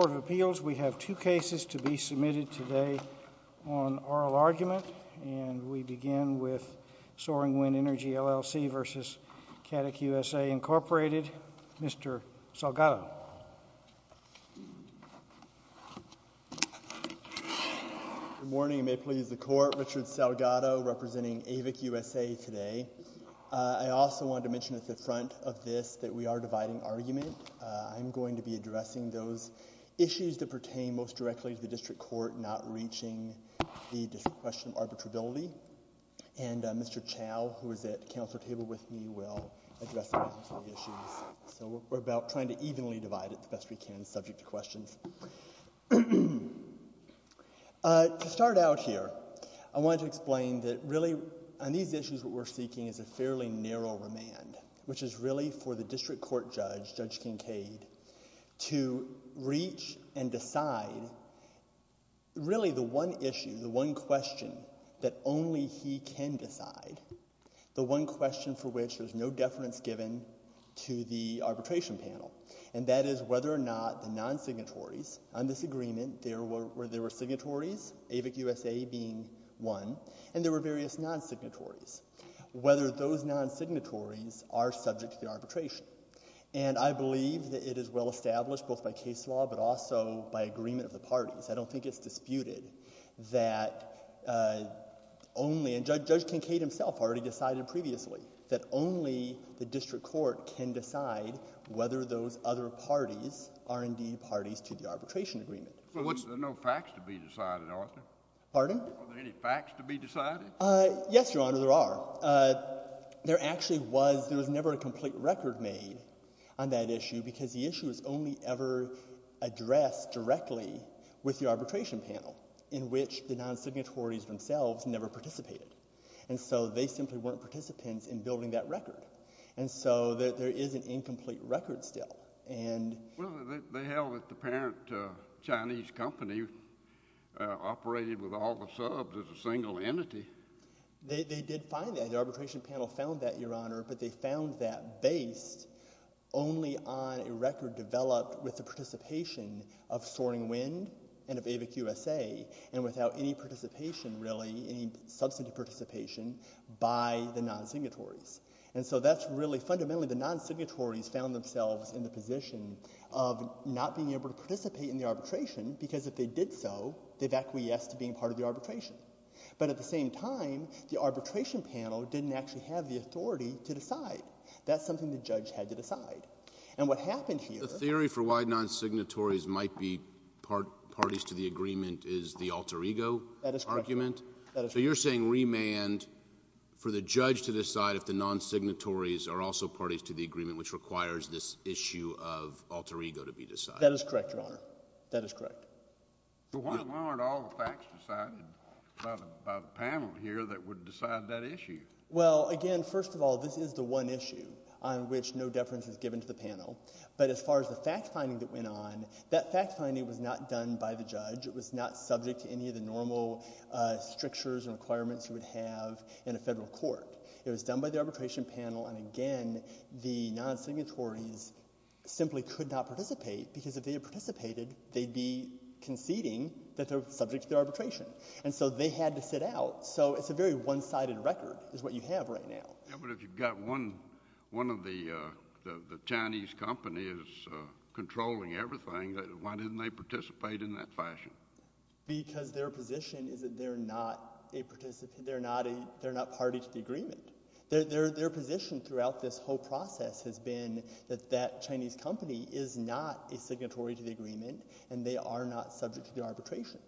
the Court of Appeals, we have two cases to be submitted today on oral argument, and we begin with Soaring Wind Energy, L.L.C. v. Catic USA, Incorporated. Mr. Salgado. Good morning. It may please the Court. Richard Salgado, representing AVIC-USA today. I also wanted to mention at the front of this that we are dividing argument. I'm going to be talking about issues that pertain most directly to the district court, not reaching the question of arbitrability. And Mr. Chow, who is at the Council table with me, will address some of the issues. So we're about trying to evenly divide it the best we can, subject to questions. To start out here, I wanted to explain that really on these issues what we're seeking is a fairly narrow remand, which is really for the district court judge, Judge Kincaid, to reach and decide really the one issue, the one question that only he can decide, the one question for which there's no deference given to the arbitration panel, and that is whether or not the non-signatories on this agreement, there were signatories, AVIC-USA being one, and there were various non-signatories, whether those non-signatories are subject to the arbitration. And I believe that it is well-established, both by case law but also by agreement of the parties. I don't think it's disputed that only, and Judge Kincaid himself already decided previously, that only the district court can decide whether those other parties are indeed parties to the arbitration agreement. But what's, there are no facts to be decided, aren't there? Pardon? Are there any facts to be decided? Yes, Your Honor, there are. There actually was, there was never a complete record made on that issue, because the issue was only ever addressed directly with the arbitration panel, in which the non-signatories themselves never participated. And so they simply weren't participants in building that record. And so there is an incomplete record still, and— Well, they held that the parent Chinese company operated with all the subs as a single entity. They, they did find that. The arbitration panel found that, Your Honor, but they found that based only on a record developed with the participation of Soaring Wind and of AVIC-USA, and without any participation, really, any substantive participation, by the non-signatories. And so that's really, fundamentally, the non-signatories found themselves in the position of not being able to participate in the arbitration, because if they did so, they've acquiesced to being part of the arbitration. But at the same time, the arbitration panel didn't actually have the authority to decide. That's something the judge had to decide. And what happened here— The theory for why non-signatories might be parties to the agreement is the alter ego argument. That is correct. So you're saying remand for the judge to decide if the non-signatories are also parties to the agreement, which requires this issue of alter ego to be decided. That is correct, Your Honor. That is correct. But why aren't all the facts decided by the panel here that would decide that issue? Well, again, first of all, this is the one issue on which no deference is given to the panel. But as far as the fact-finding that went on, that fact-finding was not done by the judge. It was not subject to any of the normal strictures and requirements you would have in a federal court. It was done by the arbitration panel. And again, the non-signatories simply could not participate, because if they had participated, they'd be conceding that they're subject to the arbitration. And so they had to sit out. So it's a very one-sided record is what you have right now. Yeah, but if you've got one of the Chinese companies controlling everything, why didn't they participate in that fashion? Because their position is that they're not a participant. They're not a—they're not party to the agreement. Their position throughout this whole process has been that that Chinese company is not a signatory to the agreement, and they are not subject to the arbitration.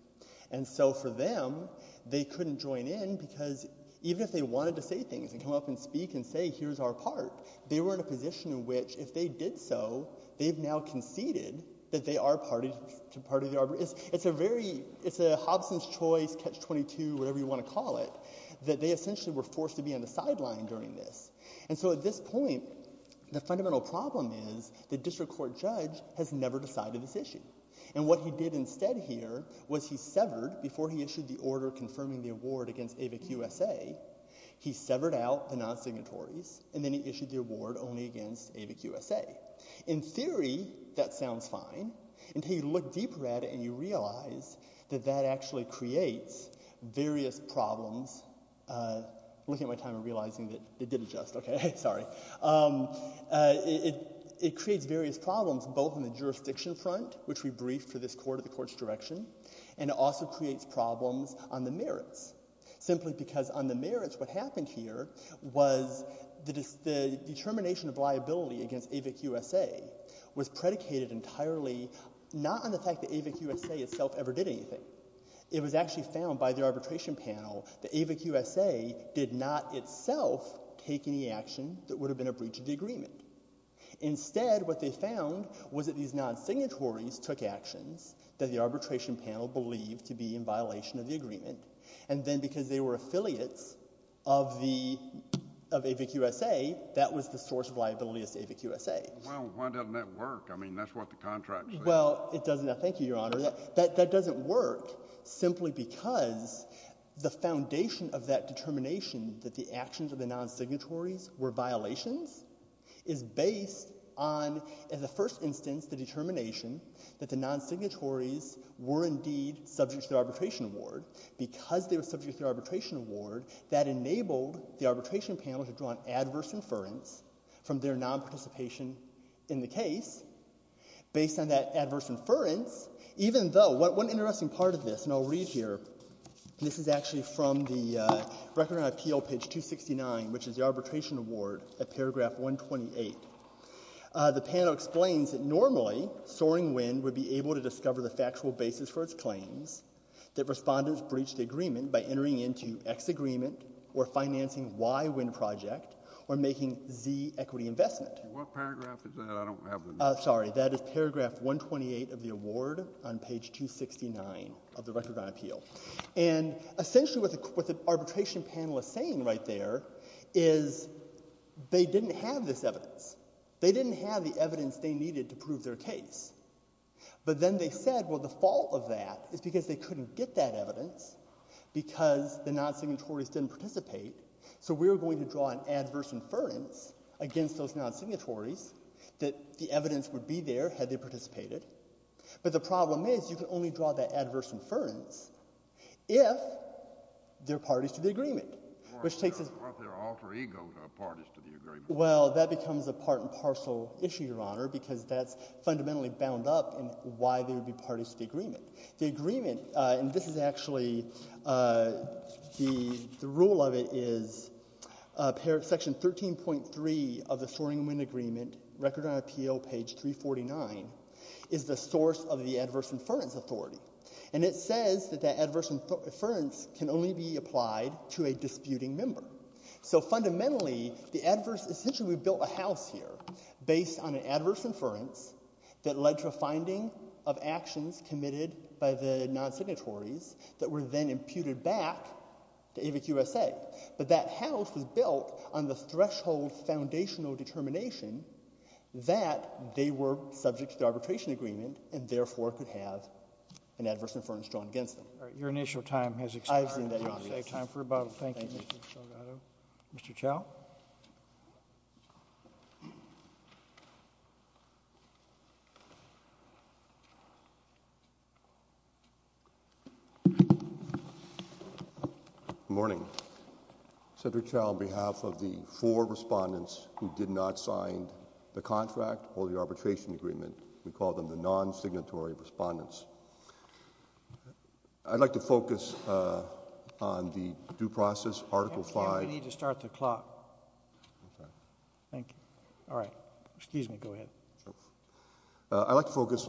And so for them, they couldn't join in, because even if they wanted to say things and come up and speak and say, here's our part, they were in a position in which if they did so, they've now conceded that they are party to the arbitration. It's a very—it's a Hobson's choice, catch-22, whatever you want to call it, that they essentially were forced to be on the sideline during this. And so at this point, the fundamental problem is the district court judge has never decided this issue. And what he did instead here was he severed before he issued the order confirming the award against AVIC-USA, he severed out the In theory, that sounds fine, until you look deeper at it and you realize that that actually creates various problems—I'm looking at my time and realizing that it did adjust, okay, sorry—it creates various problems, both in the jurisdiction front, which we briefed for this court at the court's direction, and it also creates problems on the merits, simply because on the merits, what happened here was the determination of liability against AVIC-USA was predicated entirely not on the fact that AVIC-USA itself ever did anything. It was actually found by the arbitration panel that AVIC-USA did not itself take any action that would have been a breach of the agreement. Instead, what they found was that these non-signatories took actions that the arbitration panel believed to be in violation of the agreement, and then because they were affiliates of AVIC-USA, that was the source of liability of AVIC-USA. Well, why doesn't that work? I mean, that's what the contract says. Well, it doesn't—thank you, Your Honor. That doesn't work simply because the foundation of that determination that the actions of the non-signatories were violations is based on, in the first instance, the determination that the non-signatories were indeed subject to the arbitration award. Because they were subject to the arbitration award, that enabled the arbitration panel to draw an adverse inference from their non-participation in the case based on that adverse inference, even though—one interesting part of this, and I'll read here. This is actually from the Record on Appeal, page 269, which is the arbitration award at paragraph 128. The panel explains that normally Soaring Wind would be able to discover the respondents breached the agreement by entering into X agreement or financing Y wind project or making Z equity investment. What paragraph is that? I don't have the— Sorry, that is paragraph 128 of the award on page 269 of the Record on Appeal. And essentially what the arbitration panel is saying right there is they didn't have this evidence. They didn't have the evidence they needed to prove their case. But then they said, well, the fault of that is because they couldn't get that evidence because the non-signatories didn't participate. So we're going to draw an adverse inference against those non-signatories that the evidence would be there had they participated. But the problem is you can only draw that adverse inference if they're parties to the agreement, which takes— Aren't they alter egos, parties to the agreement? Well, that becomes a part and parcel issue, Your Honor, because that's fundamentally bound up in why they would be parties to the agreement. The agreement—and this is actually—the rule of it is section 13.3 of the Soaring Wind Agreement, Record on Appeal, page 349, is the source of the adverse inference authority. And it says that that adverse inference can only be applied to a disputing member. So fundamentally, the adverse—essentially we built a house here based on an adverse inference that led to a finding of actions committed by the non-signatories that were then imputed back to AVIC-USA. But that house was built on the threshold foundational determination that they were subject to the arbitration agreement and, therefore, could have an adverse inference drawn against them. Your initial time has expired. I've seen that, Your Honor. Thank you, Mr. Delgado. Mr. Chau? Good morning. Senator Chau, on behalf of the four respondents who did not sign the contract or the arbitration agreement—we call them the non-signatory respondents—I'd like to focus on the due process, Article V— We need to start the clock. Okay. Thank you. All right. Excuse me. Go ahead. I'd like to focus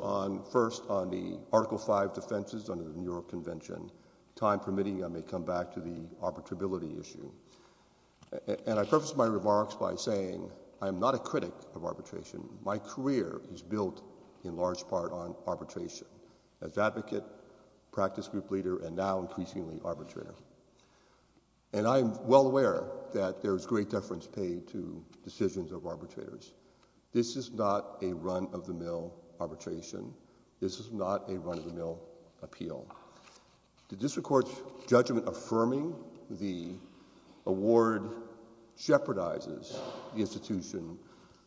first on the Article V defenses under the New York Convention. Time permitting, I may come back to the arbitrability issue. And I preface my remarks by saying I am not a critic of arbitration. My career is built in large part on arbitration. As an advocate, practice group leader, and now increasingly arbitrator. And I am well aware that there is great deference paid to decisions of arbitrators. This is not a run-of-the-mill arbitration. This is not a run-of-the-mill appeal. The district court's judgment affirming the award jeopardizes the institution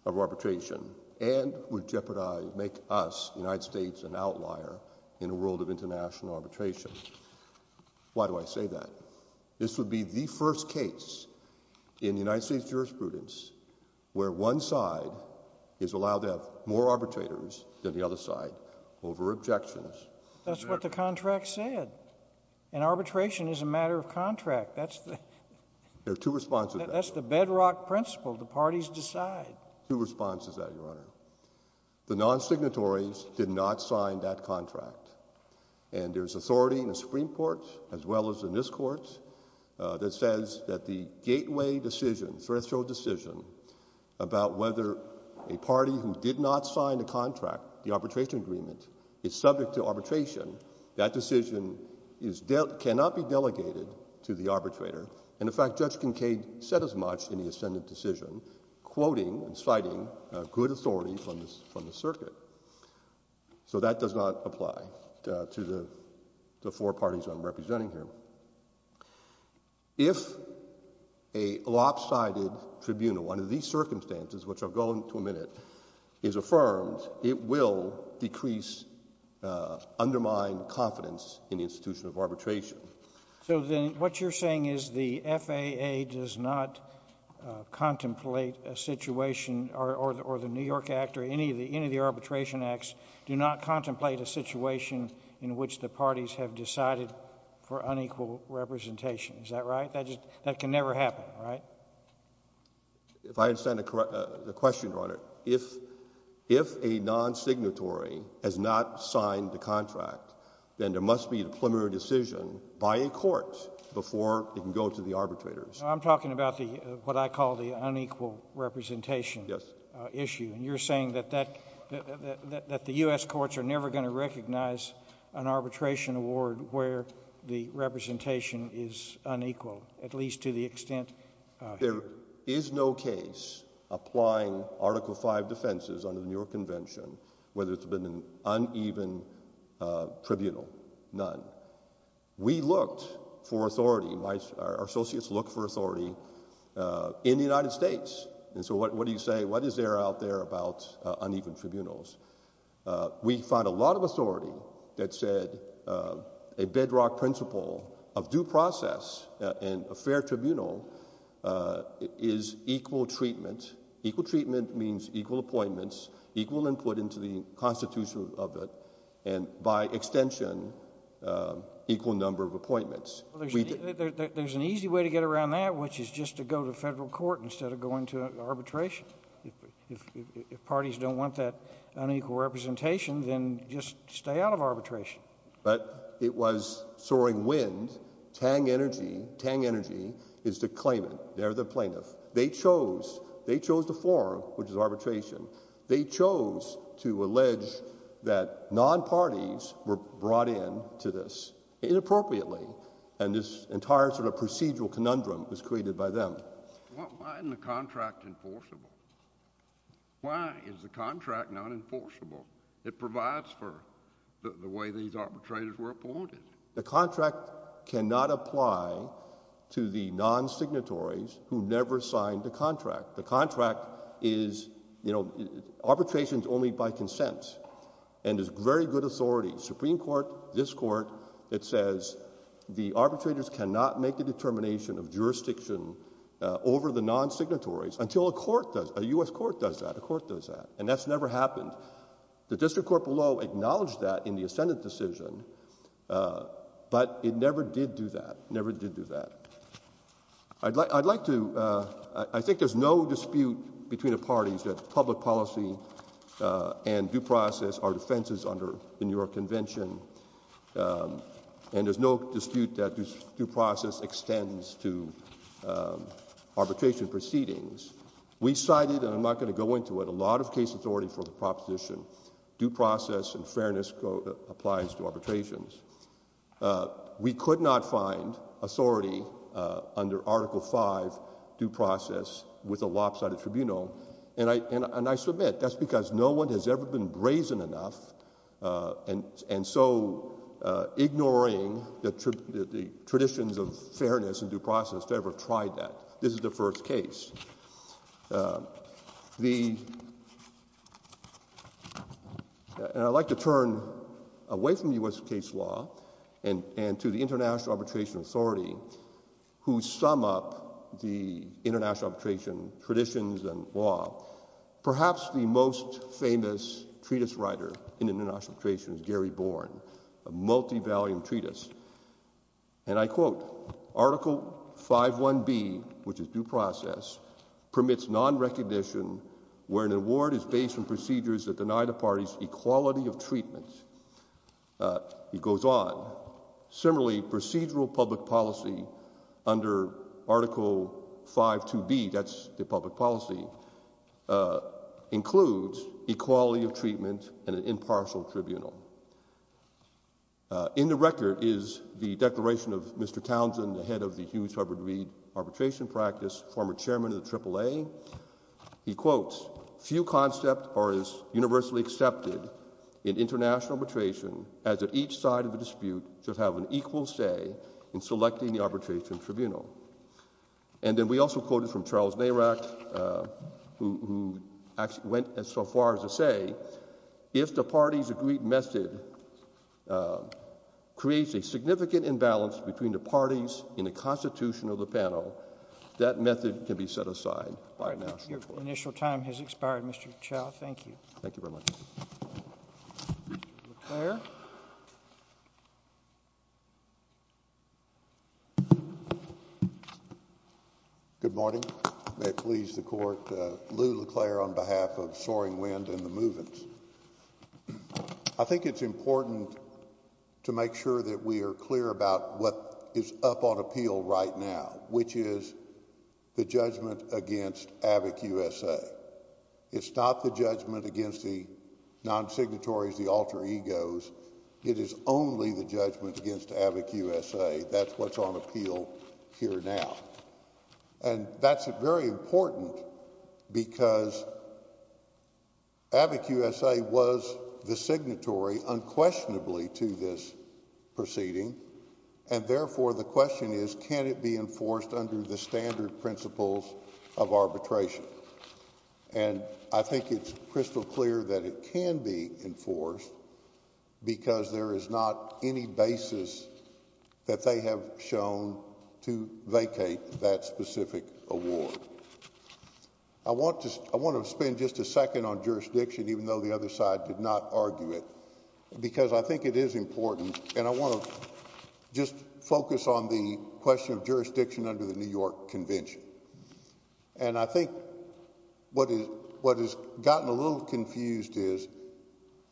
of arbitration and would jeopardize—make us, the United States, the world of international arbitration. Why do I say that? This would be the first case in United States jurisprudence where one side is allowed to have more arbitrators than the other side over objections. That's what the contract said. And arbitration is a matter of contract. That's the— There are two responses to that. That's the bedrock principle. The parties decide. Two responses to that, Your Honor. The non-signatories did not sign that contract. And there's authority in the Supreme Court, as well as in this Court, that says that the gateway decision, threshold decision, about whether a party who did not sign the contract, the arbitration agreement, is subject to arbitration, that decision is—cannot be delegated to the arbitrator. And, in fact, Judge Kincaid said as much in the ascendant decision, quoting and citing good authority from the circuit. So that does not apply to the four parties I'm representing here. If a lopsided tribunal under these circumstances, which I'll go into a minute, is affirmed, it will decrease—undermine confidence in the institution of arbitration. So then what you're saying is the FAA does not contemplate a situation—or the New York Act or any of the arbitration acts do not contemplate a situation in which the parties have decided for unequal representation. Is that right? That can never happen, right? If I understand the question, Your Honor, if a non-signatory has not signed the contract, then there must be a preliminary decision by a court before it can go to the arbitrators. I'm talking about what I call the unequal representation issue. Yes. And you're saying that the U.S. courts are never going to recognize an arbitration award where the representation is unequal, at least to the extent— There is no case applying Article V defenses under the New York Convention, whether it's been an uneven tribunal, none. We looked for authority. Our associates look for authority in the United States. And so what do you say? What is there out there about uneven tribunals? We found a lot of authority that said a bedrock principle of due process in a fair tribunal is equal treatment. Equal treatment means equal appointments, equal input into the constitution of it, and by extension, equal number of appointments. There's an easy way to get around that, which is just to go to federal court instead of going to arbitration. If parties don't want that unequal representation, then just stay out of arbitration. But it was soaring wind. Tang Energy is the claimant. They're the plaintiff. They chose the forum, which is arbitration. They chose to allege that non-parties were brought in to this inappropriately, and this entire sort of procedural conundrum was created by them. Why isn't the contract enforceable? Why is the contract not enforceable? It provides for the way these arbitrators were appointed. The contract cannot apply to the non-signatories who never signed the contract. The contract is, you know, arbitration is only by consent and is very good authority. Supreme Court, this Court, it says the arbitrators cannot make a determination of jurisdiction over the non-signatories until a court does, a U.S. court does that, a court does that, and that's never happened. The District Court below acknowledged that in the Ascendant decision, but it never did do that, never did do that. I'd like to, I think there's no dispute between the parties that public policy and due process are defenses under the New York Convention, and there's no dispute that due process extends to arbitration proceedings. We cited, and I'm not going to go into it, a lot of case authority for the proposition due process and fairness applies to arbitrations. We could not find authority under Article V due process with a lopsided tribunal, and I submit that's because no one has ever been brazen enough, and so ignoring the traditions of fairness and due process to ever try that. This is the first case. The, and I'd like to turn away from U.S. case law and to the International Arbitration Authority, who sum up the international arbitration traditions and law. Perhaps the most famous treatise writer in international arbitration is Gary Bourne, a multivalued treatise, and I quote, Article 5.1b, which is due process, permits non-recognition where an award is based on procedures that deny the parties equality of treatment. It goes on. Similarly, procedural public policy under Article 5.2b, that's the public policy, includes equality of treatment and an impartial tribunal. In the record is the declaration of Mr. Townsend, the head of the Hughes-Hubbard-Reed arbitration practice, former chairman of the AAA. He quotes, few concepts are as universally accepted in international arbitration as that each side of the dispute should have an equal say in selecting the arbitration tribunal. And then we also quoted from Charles Nairach, who actually went as far as to say, that if the parties agreed method creates a significant imbalance between the parties in the constitution of the panel, that method can be set aside by national court. Your initial time has expired, Mr. Chau. Thank you. Mr. LeClaire. Good morning. May it please the court. Lou LeClaire on behalf of Soaring Wind and the Movens. I think it's important to make sure that we are clear about what is up on appeal right now, which is the judgment against AVIC-USA. It's not the judgment against the non-signatories, the alter egos. It is only the judgment against AVIC-USA. That's what's on appeal here now. And that's very important because AVIC-USA was the signatory unquestionably to this proceeding, and therefore the question is, can it be enforced under the standard principles of arbitration? And I think it's crystal clear that it can be enforced because there is not any basis that they have shown to vacate that specific award. I want to spend just a second on jurisdiction, even though the other side did not argue it, because I think it is important, and I want to just focus on the question of jurisdiction under the New York Convention. And I think what has gotten a little confused is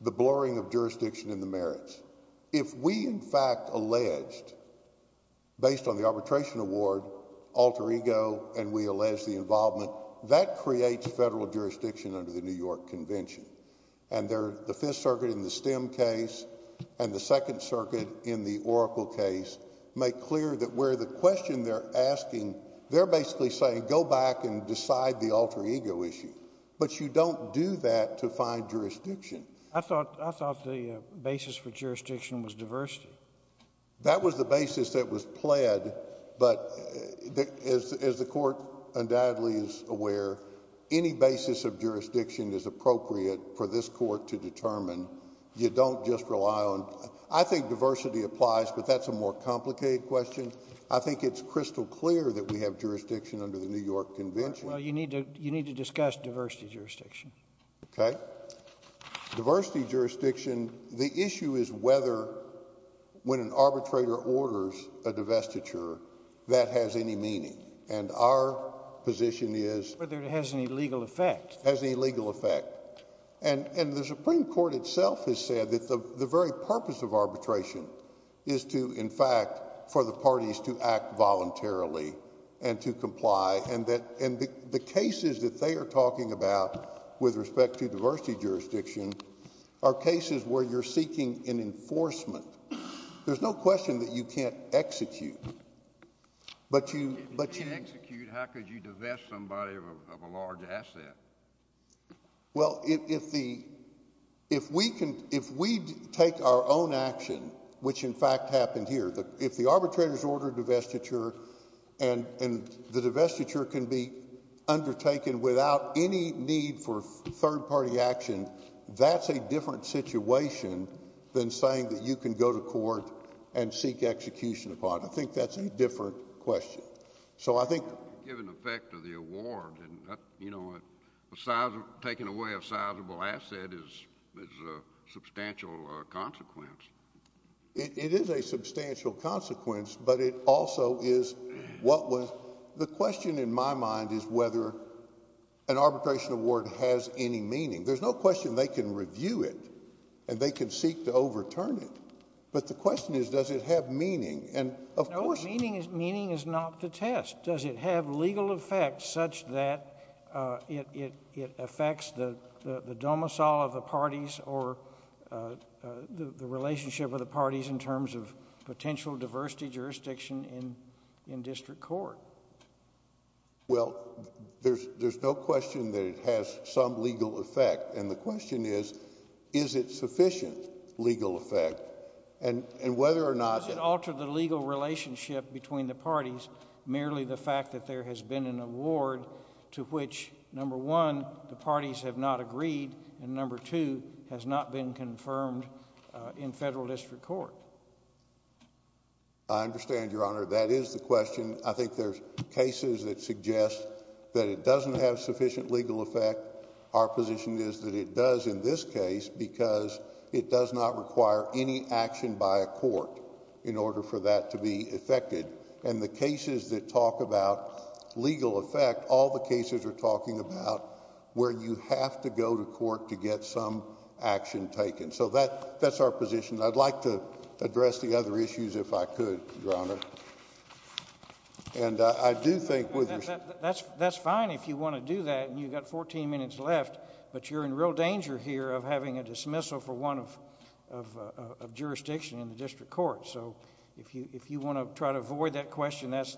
the blurring of jurisdiction in the merits. If we, in fact, alleged, based on the arbitration award, alter ego, and we allege the involvement, that creates federal jurisdiction under the New York Convention. And the Fifth Circuit in the Stem case and the Second Circuit in the Oracle case make clear that where the question they're asking, they're basically saying go back and decide the alter ego issue. But you don't do that to find jurisdiction. I thought the basis for jurisdiction was diversity. That was the basis that was pled, but as the Court undoubtedly is aware, any basis of jurisdiction is appropriate for this Court to determine. You don't just rely on, I think diversity applies, but that's a more complicated question. I think it's crystal clear that we have jurisdiction under the New York Convention. Well, you need to discuss diversity jurisdiction. Okay. Diversity jurisdiction, the issue is whether when an arbitrator orders a divestiture, that has any meaning. And our position is— Whether it has any legal effect. Has any legal effect. And the Supreme Court itself has said that the very purpose of arbitration is to, in fact, for the parties to act voluntarily and to comply. And the cases that they are talking about with respect to diversity jurisdiction are cases where you're seeking an enforcement. There's no question that you can't execute. If you can't execute, how could you divest somebody of a large asset? Well, if we take our own action, which in fact happened here, if the arbitrator has ordered divestiture and the divestiture can be undertaken without any need for third-party action, that's a different situation than saying that you can go to court and seek execution upon it. I think that's a different question. So I think— Given the effect of the award, you know, taking away a sizable asset is a substantial consequence. It is a substantial consequence, but it also is what was—the question in my mind is whether an arbitration award has any meaning. There's no question they can review it and they can seek to overturn it. But the question is, does it have meaning? And of course— No, meaning is not to test. Does it have legal effect such that it affects the domicile of the parties or the relationship of the parties in terms of potential diversity jurisdiction in district court? Well, there's no question that it has some legal effect, and the question is, is it sufficient legal effect? And whether or not— Does it alter the legal relationship between the parties merely the fact that there has been an award to which, number one, the parties have not agreed, and number two, has not been confirmed in federal district court? I understand, Your Honor. That is the question. I think there's cases that suggest that it doesn't have sufficient legal effect. Our position is that it does in this case because it does not require any action by a court in order for that to be effected. And the cases that talk about legal effect, all the cases are talking about where you have to go to court to get some action taken. So that's our position. I'd like to address the other issues if I could, Your Honor. And I do think— That's fine if you want to do that, and you've got 14 minutes left, but you're in real danger here of having a dismissal for one of jurisdiction in the district court. So if you want to try to avoid that question, that's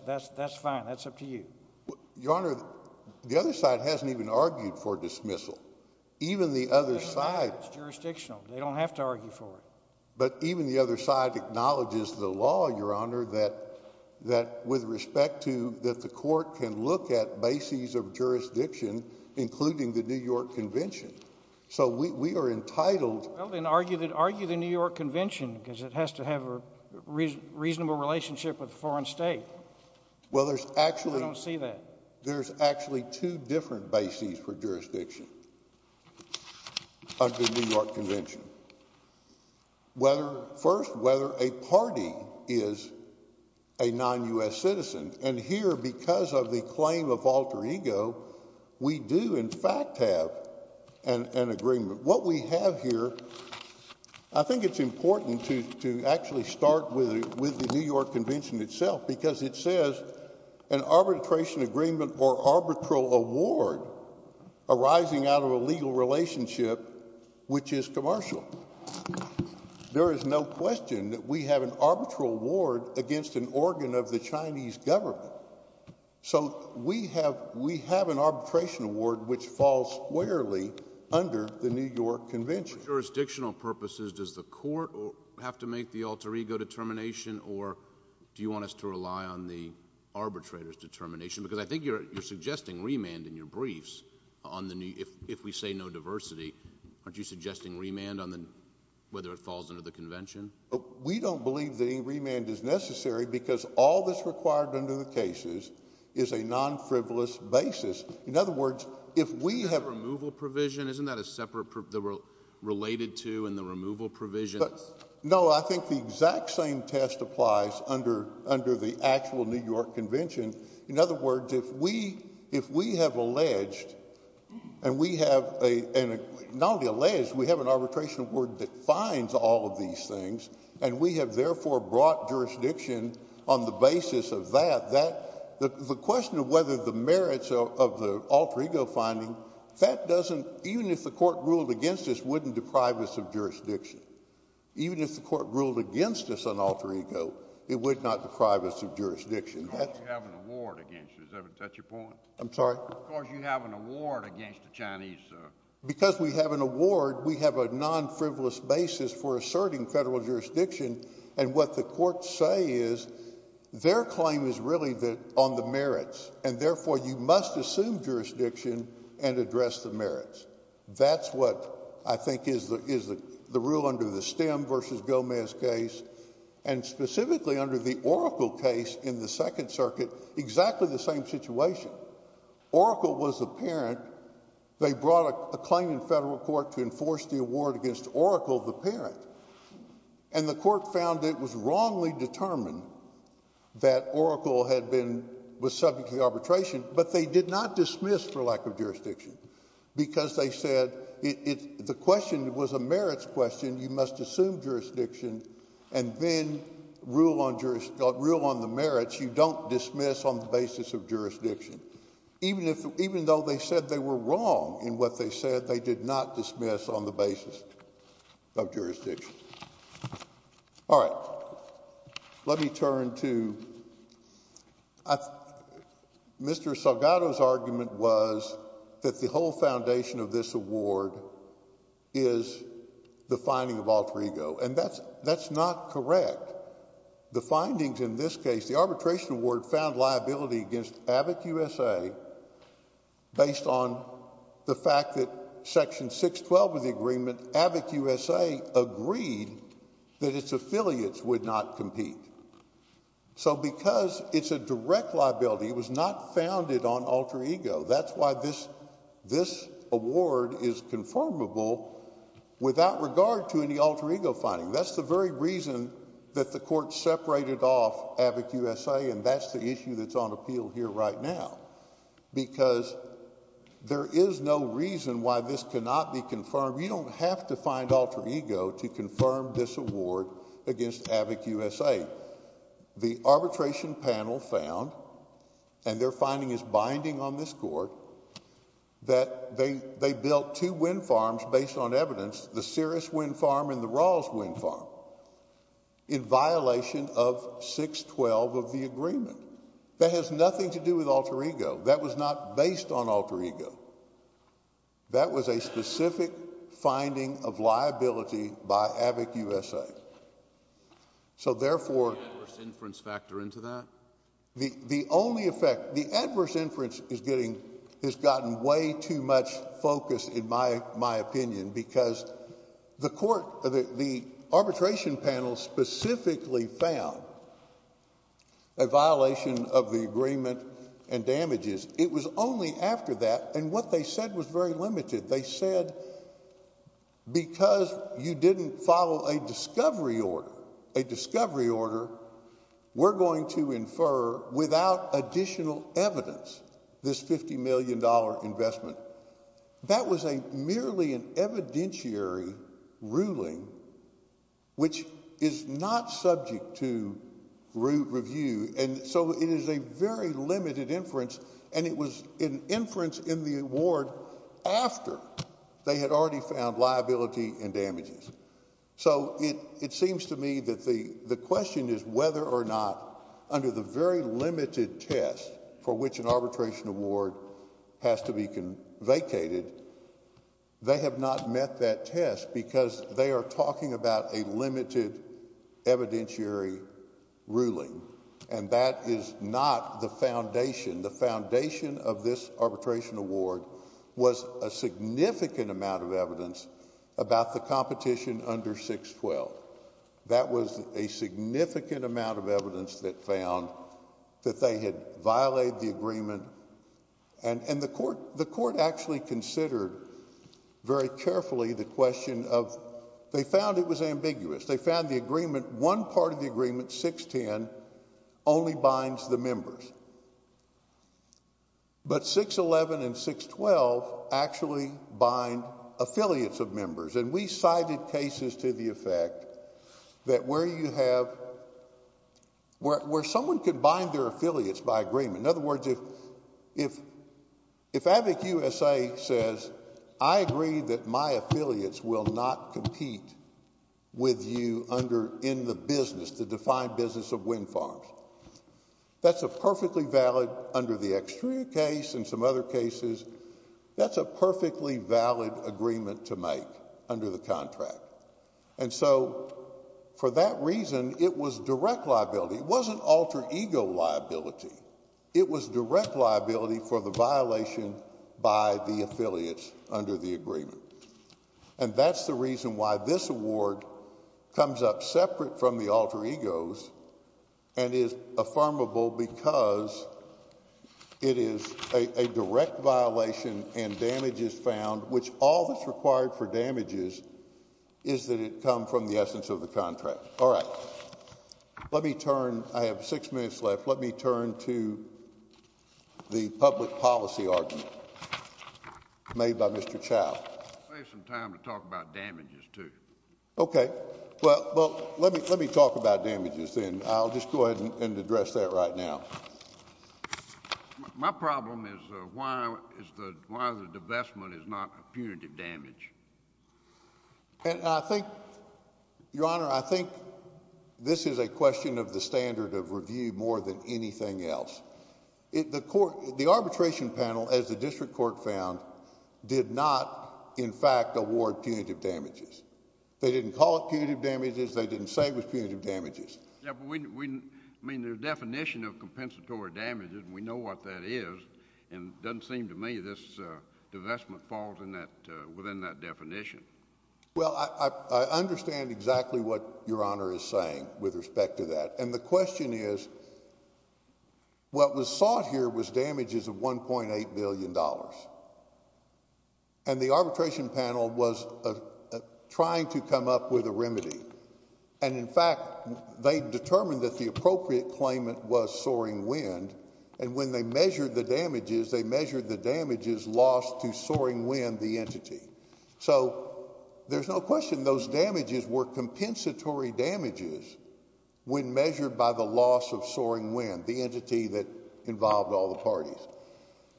fine. That's up to you. Your Honor, the other side hasn't even argued for dismissal. Even the other side— It's jurisdictional. They don't have to argue for it. But even the other side acknowledges the law, Your Honor, that with respect to that the court can look at bases of jurisdiction, including the New York Convention. So we are entitled— Well, then argue the New York Convention because it has to have a reasonable relationship with a foreign state. Well, there's actually— I don't see that. There's actually two different bases for jurisdiction under the New York Convention. First, whether a party is a non-U.S. citizen. And here, because of the claim of alter ego, we do in fact have an agreement. What we have here, I think it's important to actually start with the New York Convention itself because it says an arbitration agreement or arbitral award arising out of a legal relationship, which is commercial. There is no question that we have an arbitral award against an organ of the Chinese government. So we have an arbitration award, which falls squarely under the New York Convention. For jurisdictional purposes, does the court have to make the alter ego determination, or do you want us to rely on the arbitrator's determination? Because I think you're suggesting remand in your briefs on the—if we say no diversity, aren't you suggesting remand on whether it falls under the convention? We don't believe that any remand is necessary because all that's required under the cases is a non-frivolous basis. In other words, if we have— The removal provision, isn't that a separate—related to in the removal provision? No, I think the exact same test applies under the actual New York Convention. In other words, if we have alleged and we have—not only alleged, we have an arbitration award that finds all of these things, and we have therefore brought jurisdiction on the basis of that, the question of whether the merits of the alter ego finding, that doesn't—even if the court ruled against us, wouldn't deprive us of jurisdiction. Even if the court ruled against us on alter ego, it would not deprive us of jurisdiction. Because you have an award against you. Is that your point? I'm sorry? Because you have an award against the Chinese. Because we have an award, we have a non-frivolous basis for asserting federal jurisdiction, and what the courts say is their claim is really on the merits, and therefore you must assume jurisdiction and address the merits. That's what I think is the rule under the Stem v. Gomez case, and specifically under the Oracle case in the Second Circuit, exactly the same situation. Oracle was the parent. They brought a claim in federal court to enforce the award against Oracle, the parent, and the court found it was wrongly determined that Oracle had been—was subject to arbitration, but they did not dismiss for lack of jurisdiction, because they said the question was a merits question. You must assume jurisdiction and then rule on the merits. You don't dismiss on the basis of jurisdiction. Even though they said they were wrong in what they said, they did not dismiss on the basis of jurisdiction. All right. Let me turn to—Mr. Salgado's argument was that the whole foundation of this award is the finding of alter ego, and that's not correct. The findings in this case, the arbitration award found liability against ABIC-USA based on the fact that Section 612 of the agreement, ABIC-USA agreed that its affiliates would not compete. So because it's a direct liability, it was not founded on alter ego. That's why this award is conformable without regard to any alter ego finding. That's the very reason that the court separated off ABIC-USA, and that's the issue that's on appeal here right now, because there is no reason why this cannot be confirmed. You don't have to find alter ego to confirm this award against ABIC-USA. Again, the arbitration panel found, and their finding is binding on this court, that they built two wind farms based on evidence, the Sears Wind Farm and the Rawls Wind Farm, in violation of 612 of the agreement. That has nothing to do with alter ego. That was not based on alter ego. That was a specific finding of liability by ABIC-USA. So, therefore— Can adverse inference factor into that? The only effect—the adverse inference is getting—has gotten way too much focus, in my opinion, because the court—the arbitration panel specifically found a violation of the agreement and damages. It was only after that, and what they said was very limited. They said, because you didn't follow a discovery order, we're going to infer, without additional evidence, this $50 million investment. That was a—merely an evidentiary ruling, which is not subject to review, and so it is a very limited inference, and it was an inference in the award after they had already found liability and damages. So, it seems to me that the question is whether or not, under the very limited test for which an arbitration award has to be vacated, they have not met that test because they are talking about a limited evidentiary ruling, and that is not the foundation. The foundation of this arbitration award was a significant amount of evidence about the competition under 612. That was a significant amount of evidence that found that they had violated the agreement, and the court actually considered very carefully the question of—they found it was ambiguous. They found the agreement—one part of the agreement, 610, only binds the members, but 611 and 612 actually bind affiliates of members, and we cited cases to the effect that where you have—where someone could bind their affiliates by agreement. In other words, if AVIC-USA says, I agree that my affiliates will not compete with you under—in the business, the defined business of wind farms, that's a perfectly valid—under the Extria case and some other cases, that's a perfectly valid agreement to make under the contract. And so, for that reason, it was direct liability. It wasn't alter ego liability. It was direct liability for the violation by the affiliates under the agreement. And that's the reason why this award comes up separate from the alter egos and is affirmable because it is a direct violation and damage is found, which all that's required for damage is that it come from the essence of the contract. All right. Let me turn—I have six minutes left. Let me turn to the public policy argument made by Mr. Chau. I'll save some time to talk about damages, too. Okay. Well, let me talk about damages, then. I'll just go ahead and address that right now. My problem is why the divestment is not a punitive damage. And I think, Your Honor, I think this is a question of the standard of review more than anything else. The arbitration panel, as the district court found, did not, in fact, award punitive damages. They didn't call it punitive damages. They didn't say it was punitive damages. Yeah, but we—I mean, the definition of compensatory damages, we know what that is. And it doesn't seem to me this divestment falls in that—within that definition. Well, I understand exactly what Your Honor is saying with respect to that. And the question is what was sought here was damages of $1.8 billion. And the arbitration panel was trying to come up with a remedy. And, in fact, they determined that the appropriate claimant was Soaring Wind. And when they measured the damages, they measured the damages lost to Soaring Wind, the entity. So there's no question those damages were compensatory damages when measured by the loss of Soaring Wind, the entity that involved all the parties.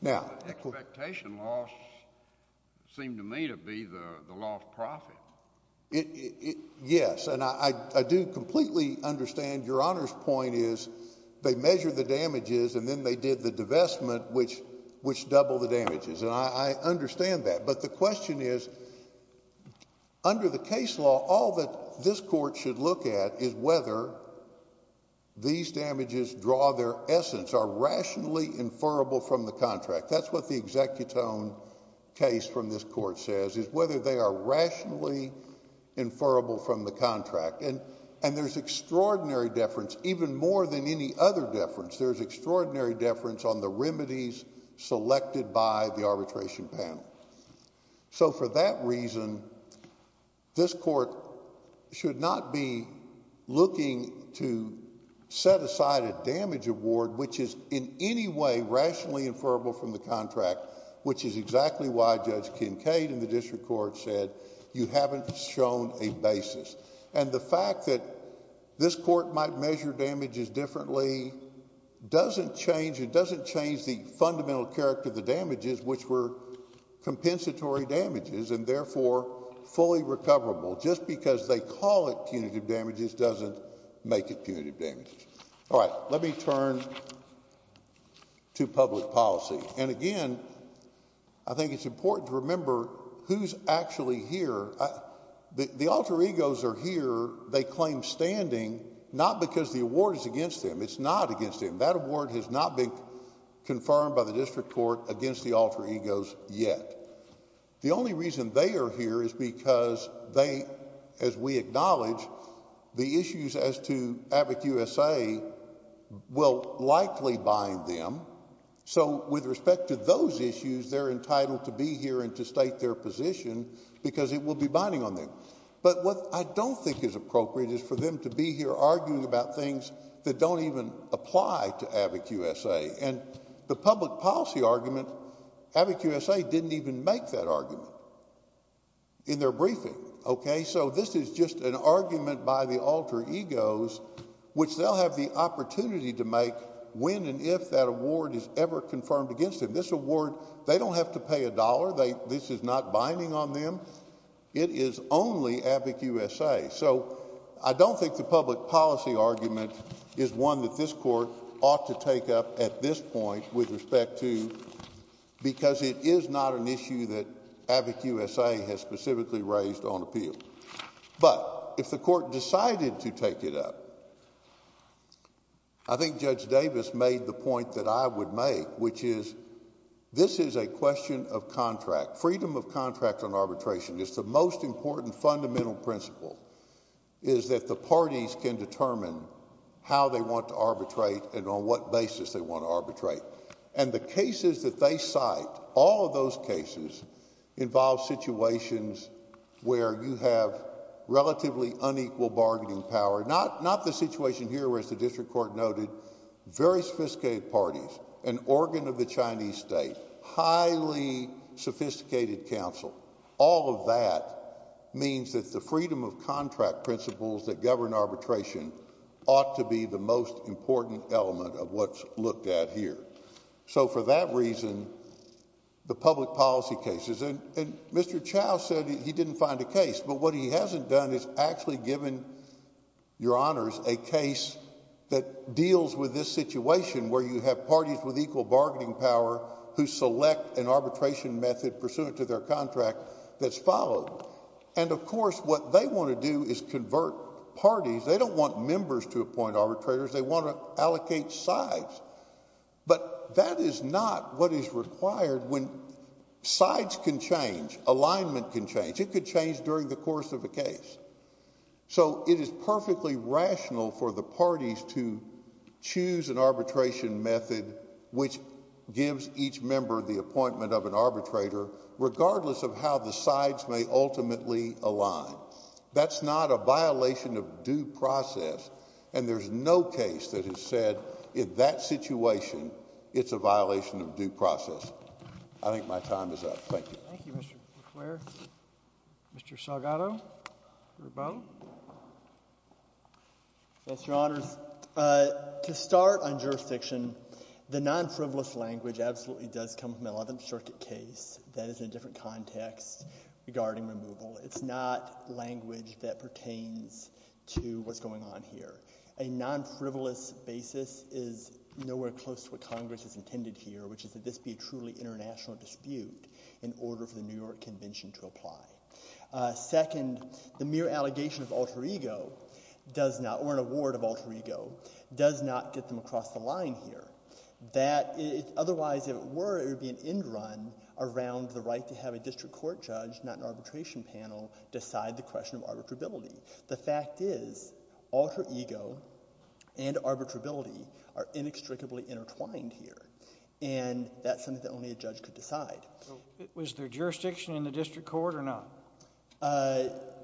Now— The expectation loss seemed to me to be the lost profit. Yes. And I do completely understand Your Honor's point is they measured the damages, and then they did the divestment, which doubled the damages. And I understand that. But the question is, under the case law, all that this Court should look at is whether these damages draw their essence, are rationally inferrable from the contract. That's what the executone case from this Court says, is whether they are rationally inferrable from the contract. And there's extraordinary deference, even more than any other deference. There's extraordinary deference on the remedies selected by the arbitration panel. So for that reason, this Court should not be looking to set aside a damage award, which is in any way rationally inferrable from the contract, which is exactly why Judge Kincaid in the district court said you haven't shown a basis. And the fact that this Court might measure damages differently doesn't change— doesn't make it punitive damages. All right. Let me turn to public policy. And again, I think it's important to remember who's actually here. The alter egos are here. They claim standing, not because the award is against them. It's not against them. That award has not been confirmed by the district court against the alter egos. The only reason they are here is because they, as we acknowledge, the issues as to AVIC-USA will likely bind them. So with respect to those issues, they're entitled to be here and to state their position, because it will be binding on them. But what I don't think is appropriate is for them to be here arguing about things that don't even apply to AVIC-USA. And the public policy argument, AVIC-USA didn't even make that argument in their briefing. OK? So this is just an argument by the alter egos, which they'll have the opportunity to make when and if that award is ever confirmed against them. This award, they don't have to pay a dollar. This is not binding on them. It is only AVIC-USA. So I don't think the public policy argument is one that this court ought to take up at this point with respect to, because it is not an issue that AVIC-USA has specifically raised on appeal. But if the court decided to take it up, I think Judge Davis made the point that I would make, which is this is a question of contract, freedom of contract on arbitration. It's the most important fundamental principle is that the parties can determine how they want to arbitrate and on what basis they want to arbitrate. And the cases that they cite, all of those cases, involve situations where you have relatively unequal bargaining power. Not the situation here where, as the district court noted, very sophisticated parties, an organ of the Chinese state, highly sophisticated counsel, all of that means that the freedom of contract principles that govern arbitration ought to be the most important element of what's looked at here. So for that reason, the public policy cases, and Mr. Chow said he didn't find a case, but what he hasn't done is actually given your honors a case that deals with this situation where you have parties with equal bargaining power who select an arbitration method pursuant to their contract that's followed. And, of course, what they want to do is convert parties. They don't want members to appoint arbitrators. They want to allocate sides. But that is not what is required when sides can change, alignment can change. It could change during the course of a case. So it is perfectly rational for the parties to choose an arbitration method which gives each member the appointment of an arbitrator, regardless of how the sides may ultimately align. That's not a violation of due process, and there's no case that has said in that situation it's a violation of due process. I think my time is up. Thank you. Thank you, Mr. McClure. Mr. Salgado or Boe? Yes, your honors. To start on jurisdiction, the non-frivolous language absolutely does come from the Eleventh Circuit case. That is in a different context regarding removal. It's not language that pertains to what's going on here. A non-frivolous basis is nowhere close to what Congress has intended here, which is that this be a truly international dispute in order for the New York Convention to apply. Second, the mere allegation of alter ego does not, or an award of alter ego, does not get them across the line here. Otherwise, if it were, it would be an end run around the right to have a district court judge, not an arbitration panel, decide the question of arbitrability. The fact is alter ego and arbitrability are inextricably intertwined here. That's something that only a judge could decide. Was there jurisdiction in the district court or not?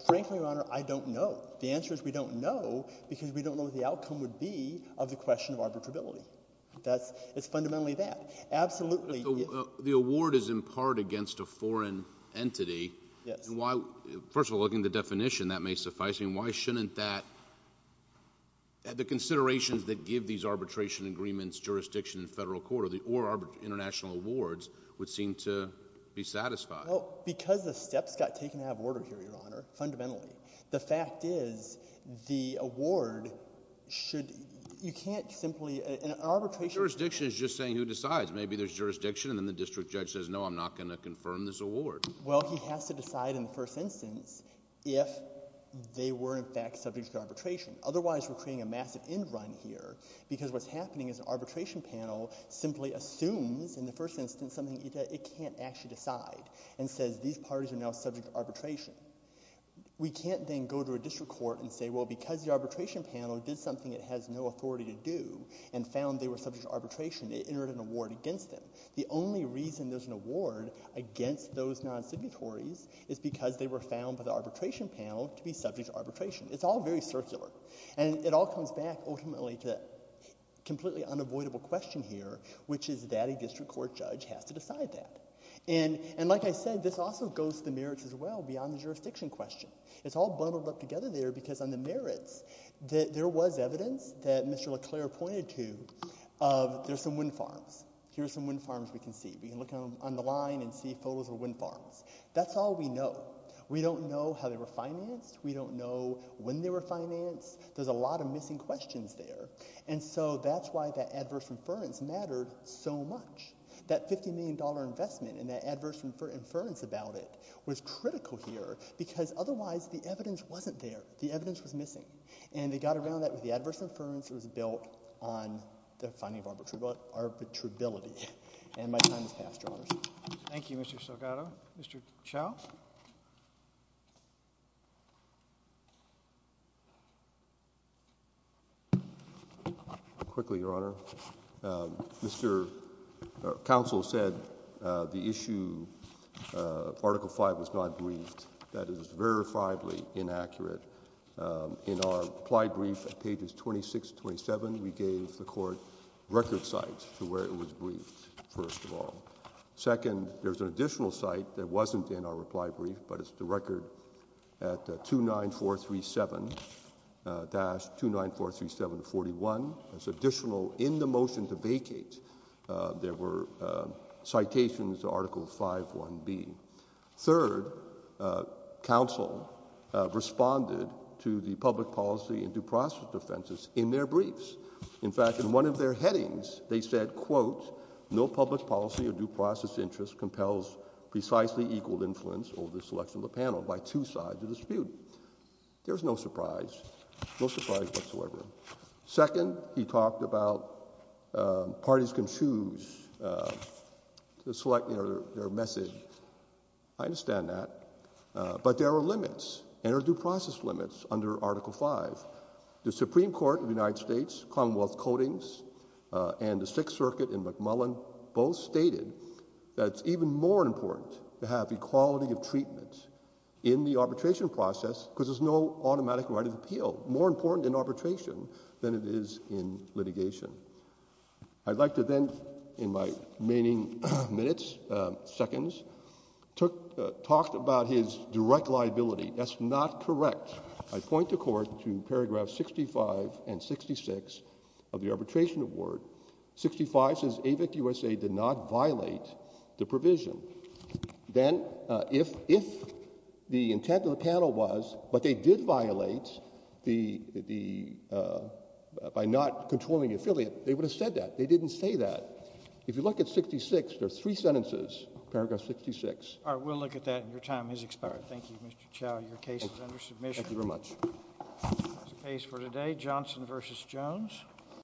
Frankly, your honor, I don't know. The answer is we don't know because we don't know what the outcome would be of the question of arbitrability. It's fundamentally that. Absolutely. The award is in part against a foreign entity. Yes. First of all, looking at the definition, that may suffice. I mean, why shouldn't that – the considerations that give these arbitration agreements jurisdiction in federal court or international awards would seem to be satisfied? Well, because the steps got taken out of order here, your honor, fundamentally. The fact is the award should – you can't simply – an arbitration – But jurisdiction is just saying who decides. Maybe there's jurisdiction and then the district judge says, no, I'm not going to confirm this award. Well, he has to decide in the first instance if they were in fact subject to arbitration. Otherwise, we're creating a massive end run here because what's happening is an arbitration panel simply assumes in the first instance something it can't actually decide and says these parties are now subject to arbitration. We can't then go to a district court and say, well, because the arbitration panel did something it has no authority to do and found they were subject to arbitration, it entered an award against them. The only reason there's an award against those non-signatories is because they were found by the arbitration panel to be subject to arbitration. It's all very circular. And it all comes back ultimately to a completely unavoidable question here, which is that a district court judge has to decide that. And like I said, this also goes to the merits as well beyond the jurisdiction question. It's all bundled up together there because on the merits, there was evidence that Mr. LeClair pointed to of there's some wind farms. Here's some wind farms we can see. We can look on the line and see photos of wind farms. That's all we know. We don't know how they were financed. We don't know when they were financed. There's a lot of missing questions there. And so that's why that adverse inference mattered so much. That $50 million investment and that adverse inference about it was critical here because otherwise the evidence wasn't there. The evidence was missing. And they got around that with the adverse inference. It was built on the finding of arbitrability. And my time has passed, Your Honor. Thank you, Mr. Salgado. Mr. Chau? Quickly, Your Honor. Mr. Counsel said the issue of Article V was not briefed. That is verifiably inaccurate. In our reply brief at pages 26 to 27, we gave the court record sites to where it was briefed, first of all. Second, there's an additional site that wasn't in our reply brief, but it's the record at 29437-29437-41. There's additional in the motion to vacate. There were citations to Article V-1B. Third, counsel responded to the public policy and due process defenses in their briefs. In fact, in one of their headings, they said, quote, no public policy or due process interest compels precisely equal influence over the selection of the panel by two sides of the dispute. There's no surprise, no surprise whatsoever. Second, he talked about parties can choose to select their message. I understand that. But there are limits and there are due process limits under Article V. The Supreme Court of the United States, Commonwealth Codings, and the Sixth Circuit in McMullen both stated that it's even more important to have equality of treatment in the arbitration process because there's no automatic right of appeal. More important in arbitration than it is in litigation. I'd like to then, in my remaining minutes, seconds, talk about his direct liability. That's not correct. I point the Court to paragraph 65 and 66 of the Arbitration Award. 65 says AVIC-USA did not violate the provision. Then if the intent of the panel was, but they did violate the, by not controlling the affiliate, they would have said that. They didn't say that. If you look at 66, there are three sentences, paragraph 66. All right, we'll look at that. Your time has expired. Thank you, Mr. Chau. Your case is under submission. Thank you very much. That's the case for today, Johnson v. Jones.